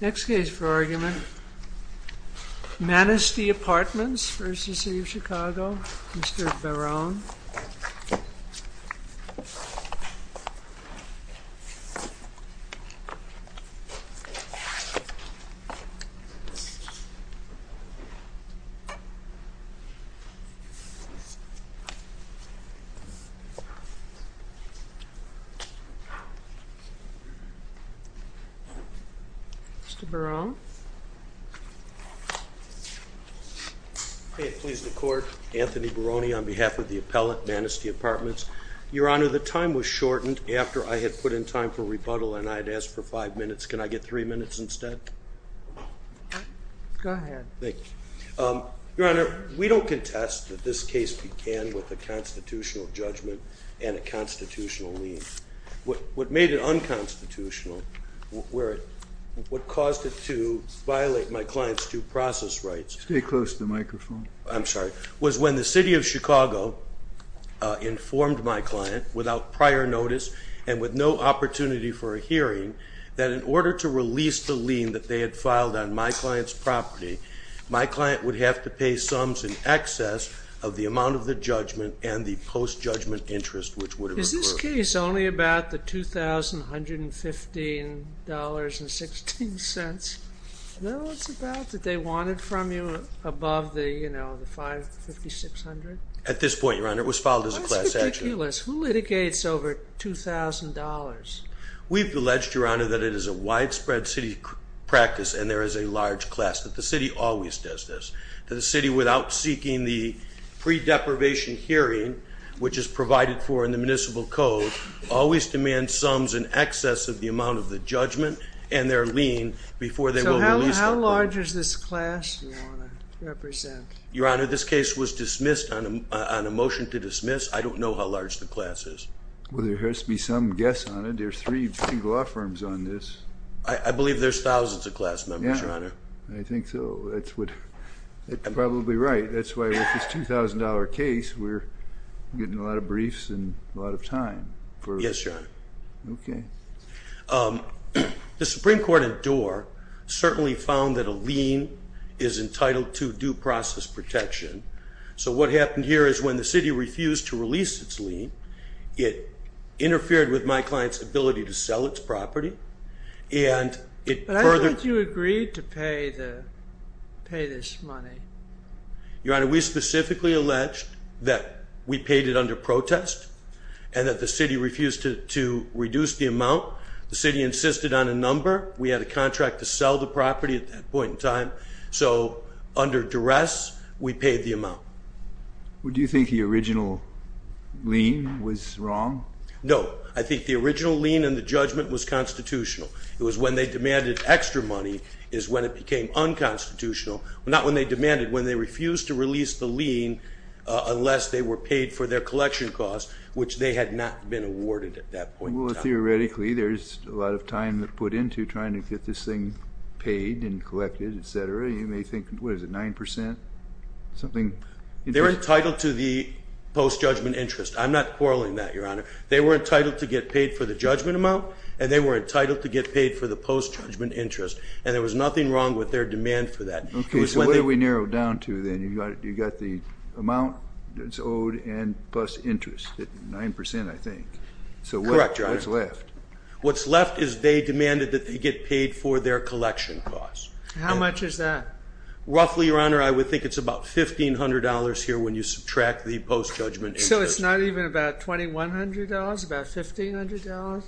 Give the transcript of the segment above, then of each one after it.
Next case for argument Manistee Apartments, LLC v. City of Chicago Anthony Barone on behalf of the appellate Manistee Apartments. Your Honor, the time was shortened after I had put in time for rebuttal and I had asked for five minutes. Can I get three minutes instead? Go ahead. Thank you. Your Honor, we don't contest that this case began with a constitutional judgment and a constitutional lien. What made it unconstitutional, what caused it to violate my client's due process rights... Stay close to the microphone. I'm sorry, was when the City of Chicago informed my client without prior notice and with no opportunity for a hearing that in order to release the lien that they had filed on my client's property, my client would have to pay sums in excess of the amount of the judgment and the post-judgment interest which would have occurred. Is this case only about the $2,115.16? No, it's about that they wanted from you above the, you know, the $5,600. At this point, Your Honor, it was filed as a class action. That's ridiculous. Who litigates over $2,000? We've alleged, Your Honor, that it is a widespread city practice and there is a large class, that the city always does this, that the city without seeking the pre-deprivation hearing, which is provided for in the Municipal Code, always demands sums in excess of the amount of the judgment and their lien before they will release it. So how large is this class you want to represent? Your Honor, this case was dismissed on a motion to dismiss. I don't know how large the class is. Well, there has to be some guess on it. There's three law firms on this. I believe there's probably right. That's why with this $2,000 case, we're getting a lot of briefs and a lot of time. Yes, Your Honor. Okay. The Supreme Court in Doar certainly found that a lien is entitled to due process protection. So what happened here is when the city refused to release its lien, it interfered with my client's ability to sell its property and it Why would you agree to pay this money? Your Honor, we specifically alleged that we paid it under protest and that the city refused to reduce the amount. The city insisted on a number. We had a contract to sell the property at that point in time. So under duress, we paid the amount. Would you think the original lien was wrong? No, I think the original lien and the extra money is when it became unconstitutional, not when they demanded, when they refused to release the lien unless they were paid for their collection costs, which they had not been awarded at that point in time. Well, theoretically, there's a lot of time that put into trying to get this thing paid and collected, etc. You may think, what is it, 9%? Something? They were entitled to the post-judgment interest. I'm not quarreling that, Your Honor. They were entitled to get paid for the judgment amount and they were entitled to get paid for the post-judgment interest and there was nothing wrong with their demand for that. Okay, so what do we narrow down to then? You've got the amount that's owed and plus interest at 9%, I think. Correct, Your Honor. So what's left? What's left is they demanded that they get paid for their collection costs. How much is that? Roughly, Your Honor, I would think it's about $1,500 here when you subtract the post-judgment interest. So it's not even about $2,100? About $1,500?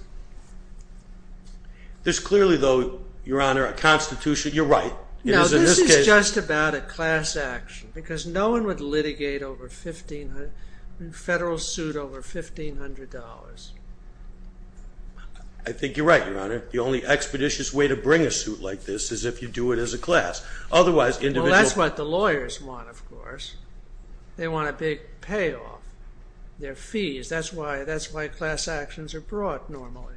There's clearly, though, Your Honor, a constitution. You're right. No, this is just about a class action because no one would litigate a federal suit over $1,500. I think you're right, Your Honor. The only expeditious way to bring a suit like this is if you do it as a class. Well, that's what the lawyers want, of course. They want a big payoff, their fees. That's why class actions are brought normally.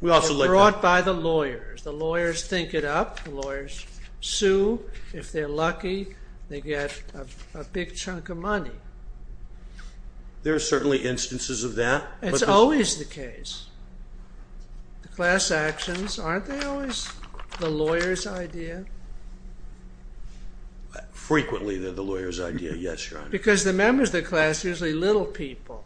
They're brought by the lawyers. The lawyers think it up. The lawyers sue. If they're lucky, they get a big chunk of money. There are certainly instances of that. It's always the case. The class actions, aren't they always the lawyer's idea? Frequently, they're the lawyer's idea, yes, Your Honor. Because the members of the class are usually little people.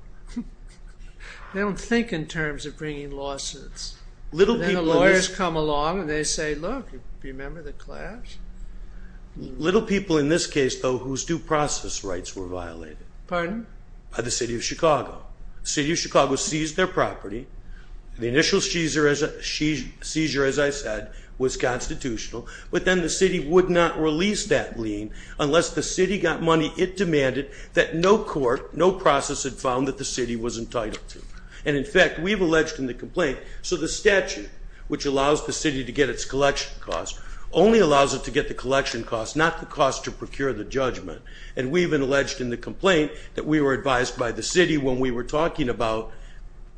They don't think in terms of bringing lawsuits. Then the lawyers come along and they say, look, do you remember the class? Little people in this case, though, whose due process rights were violated. Pardon? By the city of Chicago. The city of Chicago seized their property. The initial seizure, as I said, was constitutional. But then the city would not release that lien unless the city got money it demanded that no court, no process had found that the city was entitled to. In fact, we've alleged in the complaint, so the statute, which allows the city to get its collection costs, only allows it to get the collection costs, not the cost to procure the judgment. And we've alleged in the complaint that we were advised by the city when we were talking about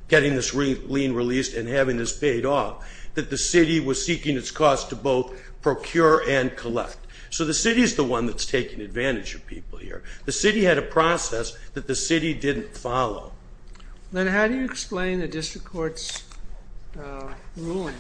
getting this lien released and having this paid off, that the city was seeking its costs to both procure and collect. So the city is the one that's taking advantage of people here. The city had a process that the city didn't follow. Then how do you explain the district court's ruling?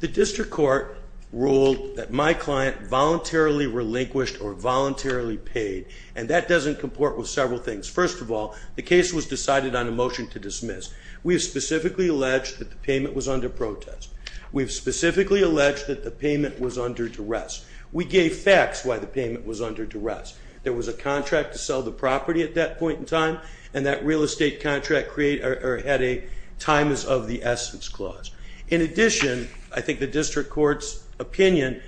The district court ruled that my client voluntarily relinquished or voluntarily paid, and that doesn't comport with several things. First of all, the case was decided on a motion to dismiss. We have specifically alleged that the payment was under protest. We have specifically alleged that the payment was under duress. We gave facts why the payment was under duress. And that real estate contract had a time is of the essence clause. In addition, I think the district court's opinion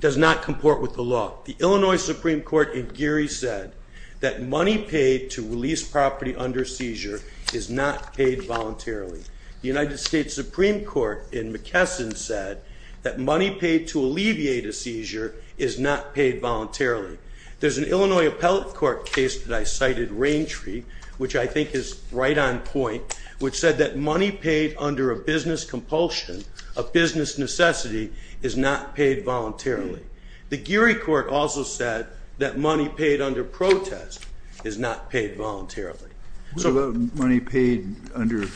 does not comport with the law. The Illinois Supreme Court in Geary said that money paid to release property under seizure is not paid voluntarily. The United States Supreme Court in McKesson said that money paid to alleviate a seizure is not paid voluntarily. There's an Illinois appellate court case that I cited, Raintree, which I think is right on point, which said that money paid under a business compulsion, a business necessity, is not paid voluntarily. The Geary court also said that money paid under protest is not paid voluntarily. What about money paid under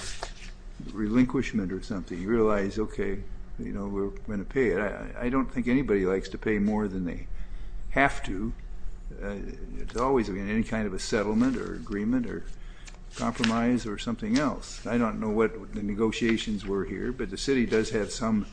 relinquishment or something? You realize, okay, you know, we're going to pay it. I don't think anybody likes to pay more than they have to. It's always been any kind of a settlement or agreement or compromise or something else. I don't know what the negotiations were here, but the city does have some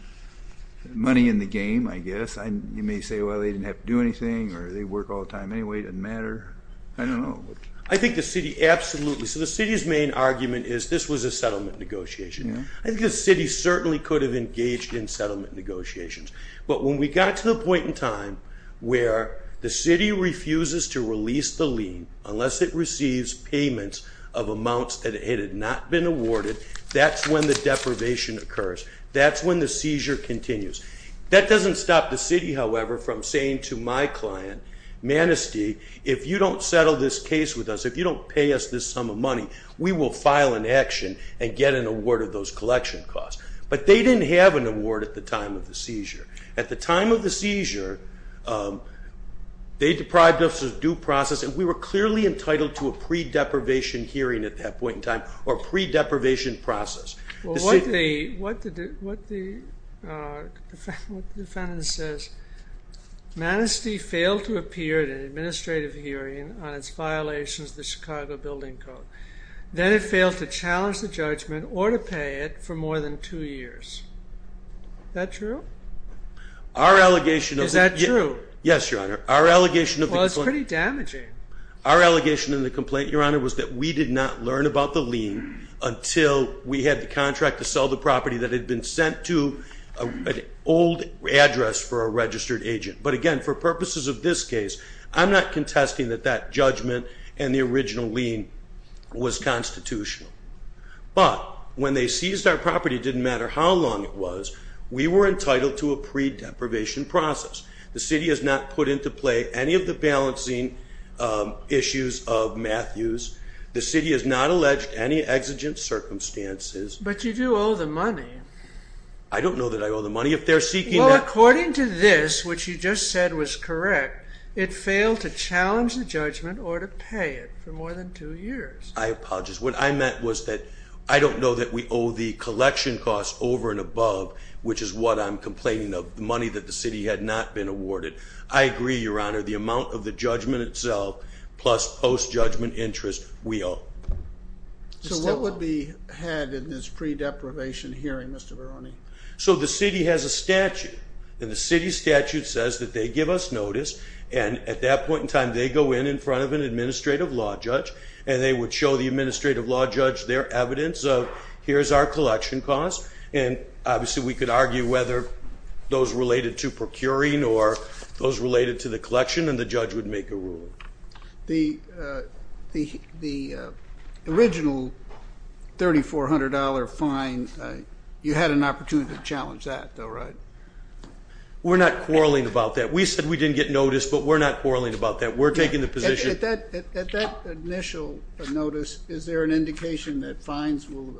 money in the game, I guess. You may say, well, they didn't have to do anything or they work all the time anyway. It doesn't matter. I don't know. I think the city absolutely. So the city's main argument is this was a settlement negotiation. I think the city certainly could have engaged in settlement negotiations, but when we got to the point in time where the city refuses to release the lien unless it receives payments of amounts that it had not been awarded, that's when the deprivation occurs. That's when the seizure continues. That doesn't stop the city, however, from saying to my client, Manistee, if you don't settle this case with us, if you don't pay us this sum of money, we will file an action and get an award of those collection costs. But they didn't have an award at the time of the seizure. At the time of the seizure, they deprived us of due process, and we were clearly entitled to a pre-deprivation hearing at that point in time or pre-deprivation process. Well, what the defendant says, Manistee failed to appear at an administrative hearing on its violations of the Chicago Building Code. Then it failed to challenge the judgment or to pay it for more than two years. Is that true? Is that true? Yes, Your Honor. Well, it's pretty damaging. Our allegation in the complaint, Your Honor, was that we did not learn about the lien until we had the contract to sell the property that had been sent to an old address for a registered agent. But again, for purposes of this case, I'm not contesting that that judgment and the original lien was constitutional. But when they seized our property, it didn't matter how long it was. We were entitled to a pre-deprivation process. The city has not put into play any of the balancing issues of Matthews. The city has not alleged any exigent circumstances. But you do owe the money. I don't know that I owe the money. Well, according to this, which you just said was correct, it failed to challenge the judgment or to pay it for more than two years. I apologize. What I meant was that I don't know that we owe the collection costs over and above, which is what I'm complaining of, the money that the city had not been awarded. I agree, Your Honor, the amount of the judgment itself plus post-judgment interest, we owe. So what would be had in this pre-deprivation hearing, Mr. Veroni? So the city has a statute, and the city statute says that they give us notice, and at that point in time they go in in front of an administrative law judge, and they would show the administrative law judge their evidence of here's our collection costs. And obviously we could argue whether those related to procuring or those related to the collection, and the judge would make a ruling. The original $3,400 fine, you had an opportunity to challenge that, though, right? We're not quarreling about that. We said we didn't get notice, but we're not quarreling about that. We're taking the position. At that initial notice, is there an indication that fines will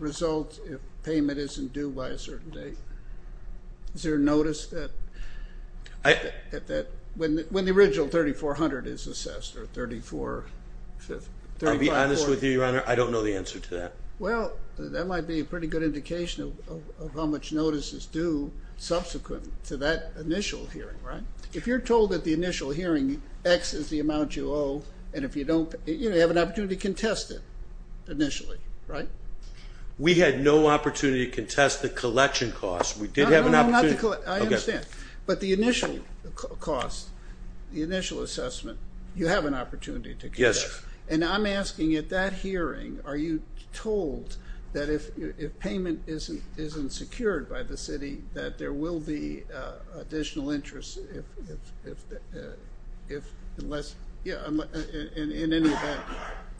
result if payment isn't due by a certain date? Is there a notice that when the original $3,400 is assessed or $3,400? To be honest with you, Your Honor, I don't know the answer to that. Well, that might be a pretty good indication of how much notice is due subsequent to that initial hearing, right? If you're told at the initial hearing X is the amount you owe, and if you don't, you have an opportunity to contest it initially, right? We had no opportunity to contest the collection costs. We did have an opportunity. No, no, no, not the collection. I understand. But the initial cost, the initial assessment, you have an opportunity to contest. Yes. And I'm asking at that hearing, are you told that if payment isn't secured by the city, that there will be additional interest in any event?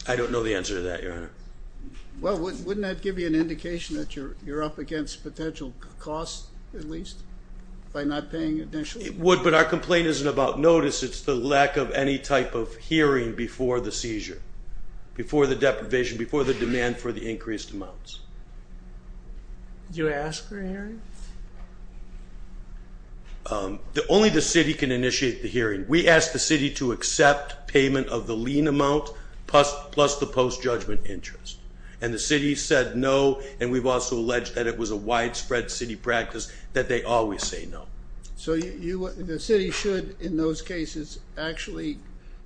I don't know the answer to that, Your Honor. Well, wouldn't that give you an indication that you're up against potential costs, at least, by not paying initially? It would, but our complaint isn't about notice. It's the lack of any type of hearing before the seizure, before the deprivation, before the demand for the increased amounts. Did you ask for a hearing? Only the city can initiate the hearing. We asked the city to accept payment of the lien amount plus the post-judgment interest, and the city said no, and we've also alleged that it was a widespread city practice that they always say no. So the city should, in those cases, actually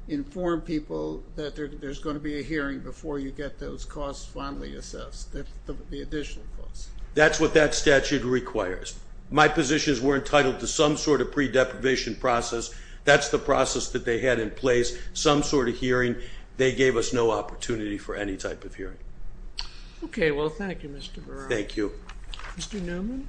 inform people that there's going to be a hearing before you get those costs fondly assessed, the additional costs. That's what that statute requires. My positions were entitled to some sort of pre-deprivation process. That's the process that they had in place, some sort of hearing. They gave us no opportunity for any type of hearing. Okay. Well, thank you, Mr. Verrilli. Thank you. Mr. Newman?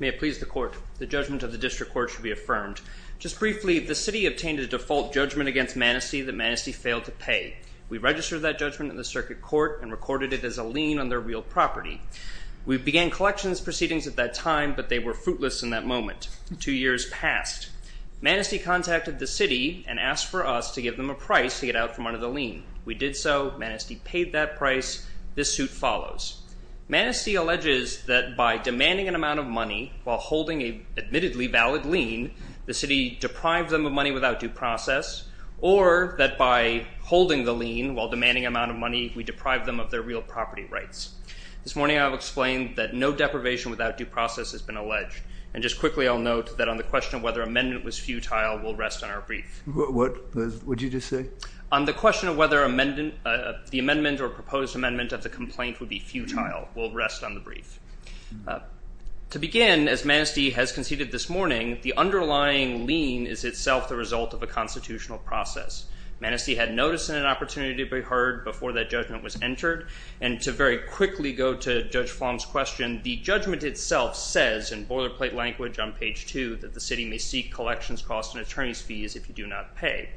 May it please the court. The judgment of the district court should be affirmed. Just briefly, the city obtained a default judgment against Manistee that Manistee failed to pay. We registered that judgment in the circuit court and recorded it as a lien on their real property. We began collections proceedings at that time, but they were fruitless in that moment. Two years passed. Manistee contacted the city and asked for us to give them a price to get out from under the lien. We did so. Manistee paid that price. This suit follows. Manistee alleges that by demanding an amount of money while holding an admittedly valid lien, the city deprived them of money without due process, or that by holding the lien while demanding an amount of money, we deprived them of their real property rights. This morning I will explain that no deprivation without due process has been alleged, and just quickly I'll note that on the question of whether amendment was futile will rest on our brief. What did you just say? On the question of whether the amendment or proposed amendment of the complaint would be futile will rest on the brief. To begin, as Manistee has conceded this morning, the underlying lien is itself the result of a constitutional process. Manistee had notice and an opportunity to be heard before that judgment was entered, and to very quickly go to Judge Flom's question, the judgment itself says in boilerplate language on page 2 that the city may seek collections costs and attorney's fees if you do not pay.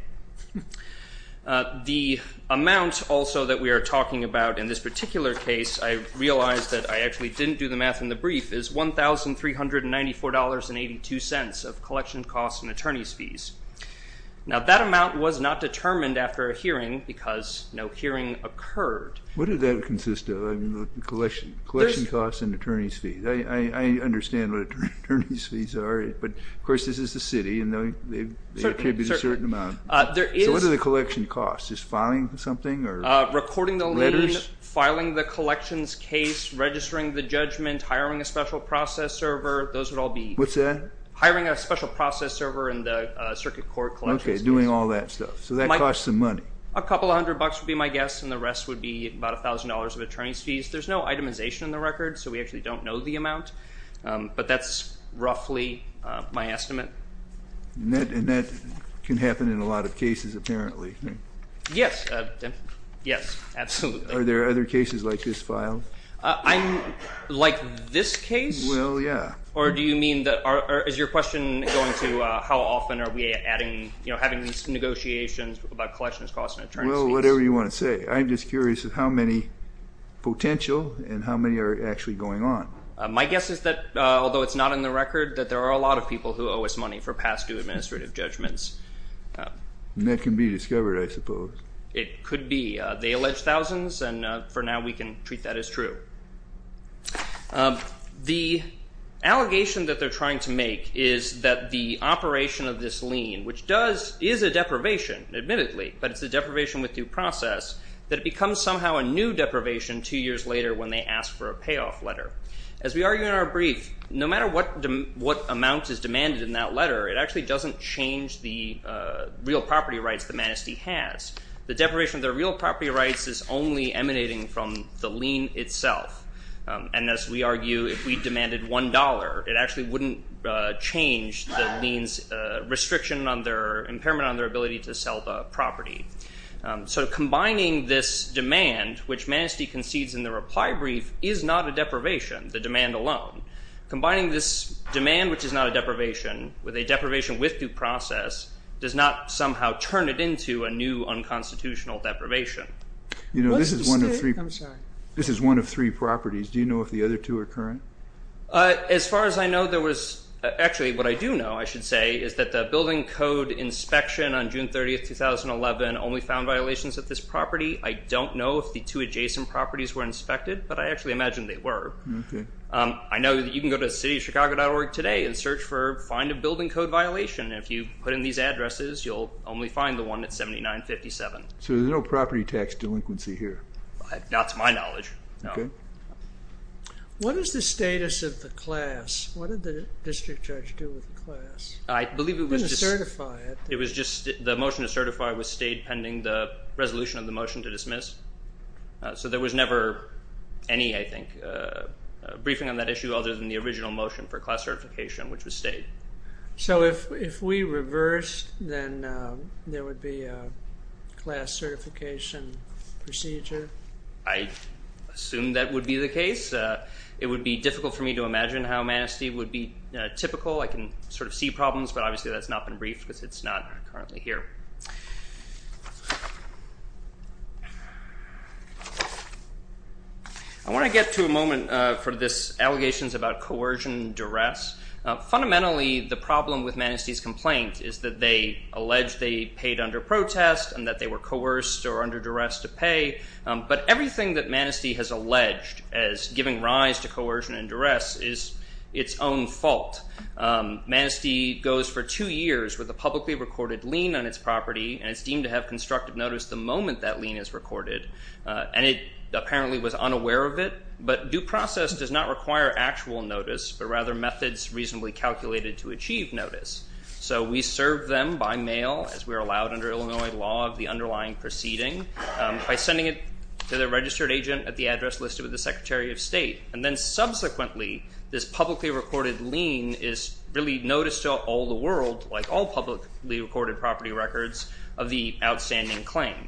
The amount also that we are talking about in this particular case, I realize that I actually didn't do the math in the brief, is $1,394.82 of collection costs and attorney's fees. Now that amount was not determined after a hearing because no hearing occurred. Collection costs and attorney's fees. I understand what attorney's fees are, but of course this is the city, and they attribute a certain amount. So what do the collection costs? Is filing something or letters? Recording the lien, filing the collections case, registering the judgment, hiring a special process server, those would all be. What's that? Hiring a special process server in the circuit court collections case. Okay, doing all that stuff. So that costs some money. A couple hundred bucks would be my guess, and the rest would be about $1,000 of attorney's fees. There's no itemization in the record, so we actually don't know the amount, but that's roughly my estimate. And that can happen in a lot of cases apparently. Yes. Yes, absolutely. Are there other cases like this filed? Like this case? Well, yeah. Or is your question going to how often are we adding, having these negotiations about collections costs and attorney's fees? Well, whatever you want to say. I'm just curious of how many potential and how many are actually going on. My guess is that, although it's not in the record, that there are a lot of people who owe us money for past due administrative judgments. And that can be discovered, I suppose. It could be. They allege thousands, and for now we can treat that as true. The allegation that they're trying to make is that the operation of this lien, which is a deprivation, admittedly, but it's a deprivation with due process, that it becomes somehow a new deprivation two years later when they ask for a payoff letter. As we argue in our brief, no matter what amount is demanded in that letter, it actually doesn't change the real property rights the manistee has. The deprivation of their real property rights is only emanating from the lien itself. And as we argue, if we demanded $1, it actually wouldn't change the lien's impairment on their ability to sell the property. So combining this demand, which manistee concedes in the reply brief, is not a deprivation, the demand alone. Combining this demand, which is not a deprivation, with a deprivation with due process, does not somehow turn it into a new unconstitutional deprivation. You know, this is one of three properties. Do you know if the other two are current? As far as I know, there was—actually, what I do know, I should say, is that the building code inspection on June 30, 2011, only found violations at this property. I don't know if the two adjacent properties were inspected, but I actually imagine they were. I know that you can go to cityofchicago.org today and search for find a building code violation. If you put in these addresses, you'll only find the one at 7957. So there's no property tax delinquency here? Not to my knowledge, no. What is the status of the class? What did the district judge do with the class? I believe it was just— He didn't certify it. It was just—the motion to certify was stayed pending the resolution of the motion to dismiss. So there was never any, I think, briefing on that issue other than the original motion for class certification, which was stayed. So if we reversed, then there would be a class certification procedure? I assume that would be the case. It would be difficult for me to imagine how Manistee would be typical. I can sort of see problems, but obviously that's not been briefed because it's not currently here. I want to get to a moment for this allegations about coercion and duress. Fundamentally, the problem with Manistee's complaint is that they allege they paid under protest and that they were coerced or under duress to pay. But everything that Manistee has alleged as giving rise to coercion and duress is its own fault. Manistee goes for two years with a publicly recorded lien on its property and is deemed to have constructed notice the moment that lien is recorded. And it apparently was unaware of it, but due process does not require actual notice, but rather methods reasonably calculated to achieve notice. So we serve them by mail as we are allowed under Illinois law of the underlying proceeding by sending it to the registered agent at the address listed with the Secretary of State. And then subsequently, this publicly recorded lien is really noticed to all the world, like all publicly recorded property records of the outstanding claim.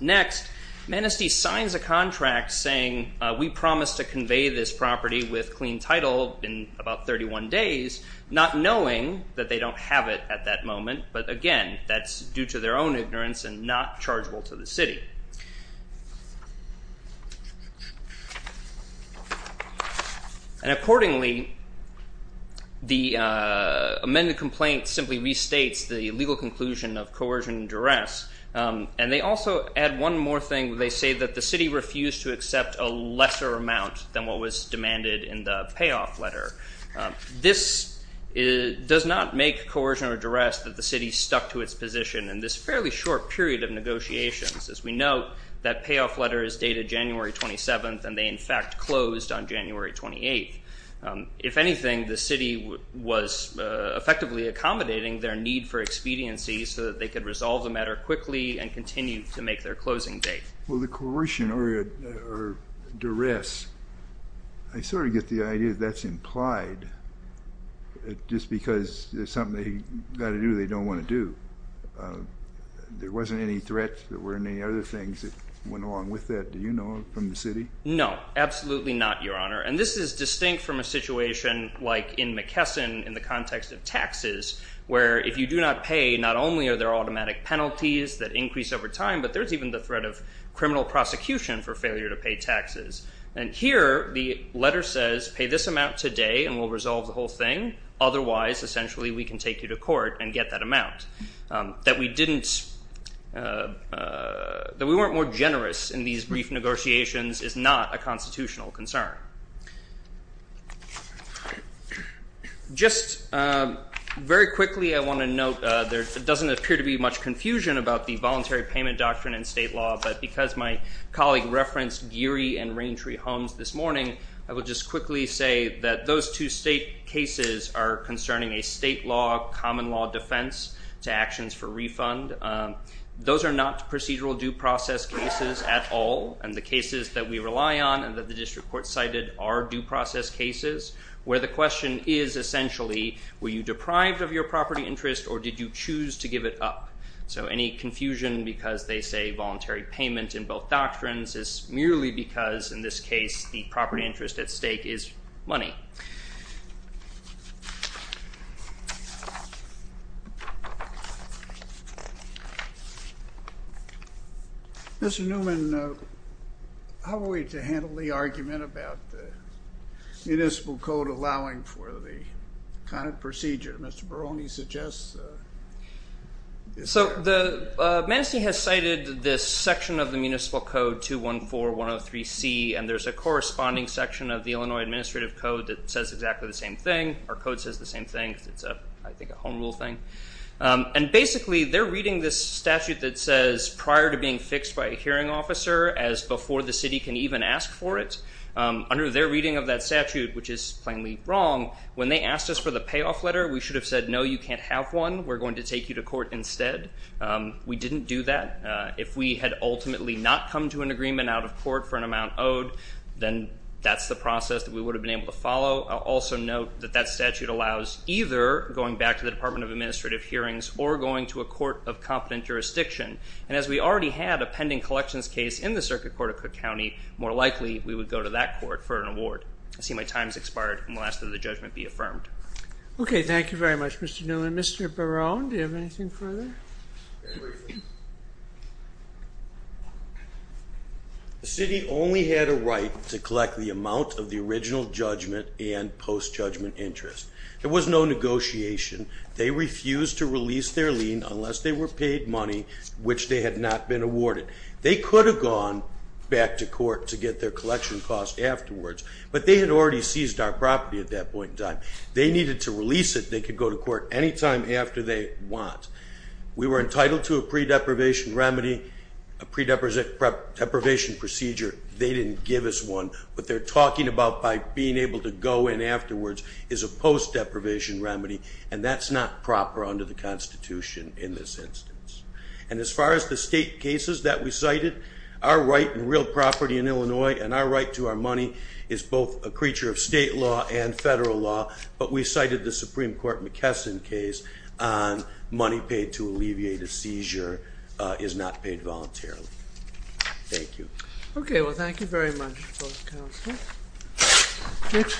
Next, Manistee signs a contract saying, we promise to convey this property with clean title in about 31 days, not knowing that they don't have it at that moment. But again, that's due to their own ignorance and not chargeable to the city. And accordingly, the amended complaint simply restates the legal conclusion of coercion and duress. And they also add one more thing. They say that the city refused to accept a lesser amount than what was demanded in the payoff letter. This does not make coercion or duress that the city stuck to its position in this fairly short period of negotiations. As we know, that payoff letter is dated January 27th, and they in fact closed on January 28th. If anything, the city was effectively accommodating their need for expediency so that they could resolve the matter quickly and continue to make their closing date. Well, the coercion or duress, I sort of get the idea that that's implied, just because it's something they've got to do or they don't want to do. There wasn't any threat, there weren't any other things that went along with that. Do you know from the city? No, absolutely not, Your Honor. And this is distinct from a situation like in McKesson in the context of taxes, where if you do not pay, not only are there automatic penalties that increase over time, but there's even the threat of criminal prosecution for failure to pay taxes. And here, the letter says, pay this amount today and we'll resolve the whole thing. Otherwise, essentially, we can take you to court and get that amount. That we weren't more generous in these brief negotiations is not a constitutional concern. Just very quickly, I want to note there doesn't appear to be much confusion about the voluntary payment doctrine in state law, but because my colleague referenced Geary and Raintree Homes this morning, I will just quickly say that those two state cases are concerning a state law, common law defense to actions for refund. Those are not procedural due process cases at all, and the cases that we rely on and that the district court cited are due process cases, where the question is essentially, were you deprived of your property interest or did you choose to give it up? So any confusion because they say voluntary payment in both doctrines is merely because, in this case, the property interest at stake is money. Thank you. Mr. Newman, how are we to handle the argument about the municipal code allowing for the kind of procedure that Mr. Barone suggests? So Manistee has cited this section of the municipal code, 214103C, and there's a corresponding section of the Illinois Administrative Code that says exactly the same thing. Our code says the same thing because it's, I think, a home rule thing. And basically, they're reading this statute that says prior to being fixed by a hearing officer as before the city can even ask for it. Under their reading of that statute, which is plainly wrong, when they asked us for the payoff letter, we should have said, no, you can't have one. We're going to take you to court instead. We didn't do that. If we had ultimately not come to an agreement out of court for an amount owed, then that's the process that we would have been able to follow. I'll also note that that statute allows either going back to the Department of Administrative Hearings or going to a court of competent jurisdiction. And as we already had a pending collections case in the Circuit Court of Cook County, more likely we would go to that court for an award. I see my time has expired, and we'll ask that the judgment be affirmed. Okay, thank you very much, Mr. Newman. Mr. Barone, do you have anything further? The city only had a right to collect the amount of the original judgment and post-judgment interest. There was no negotiation. They refused to release their lien unless they were paid money, which they had not been awarded. They could have gone back to court to get their collection cost afterwards, but they had already seized our property at that point in time. They needed to release it. They could go to court any time after they want. We were entitled to a pre-deprivation remedy, a pre-deprivation procedure. They didn't give us one. What they're talking about by being able to go in afterwards is a post-deprivation remedy, and that's not proper under the Constitution in this instance. And as far as the state cases that we cited, our right in real property in Illinois and our right to our money is both a creature of state law and federal law. But we cited the Supreme Court McKesson case on money paid to alleviate a seizure is not paid voluntarily. Thank you. Okay. Well, thank you very much for the counsel.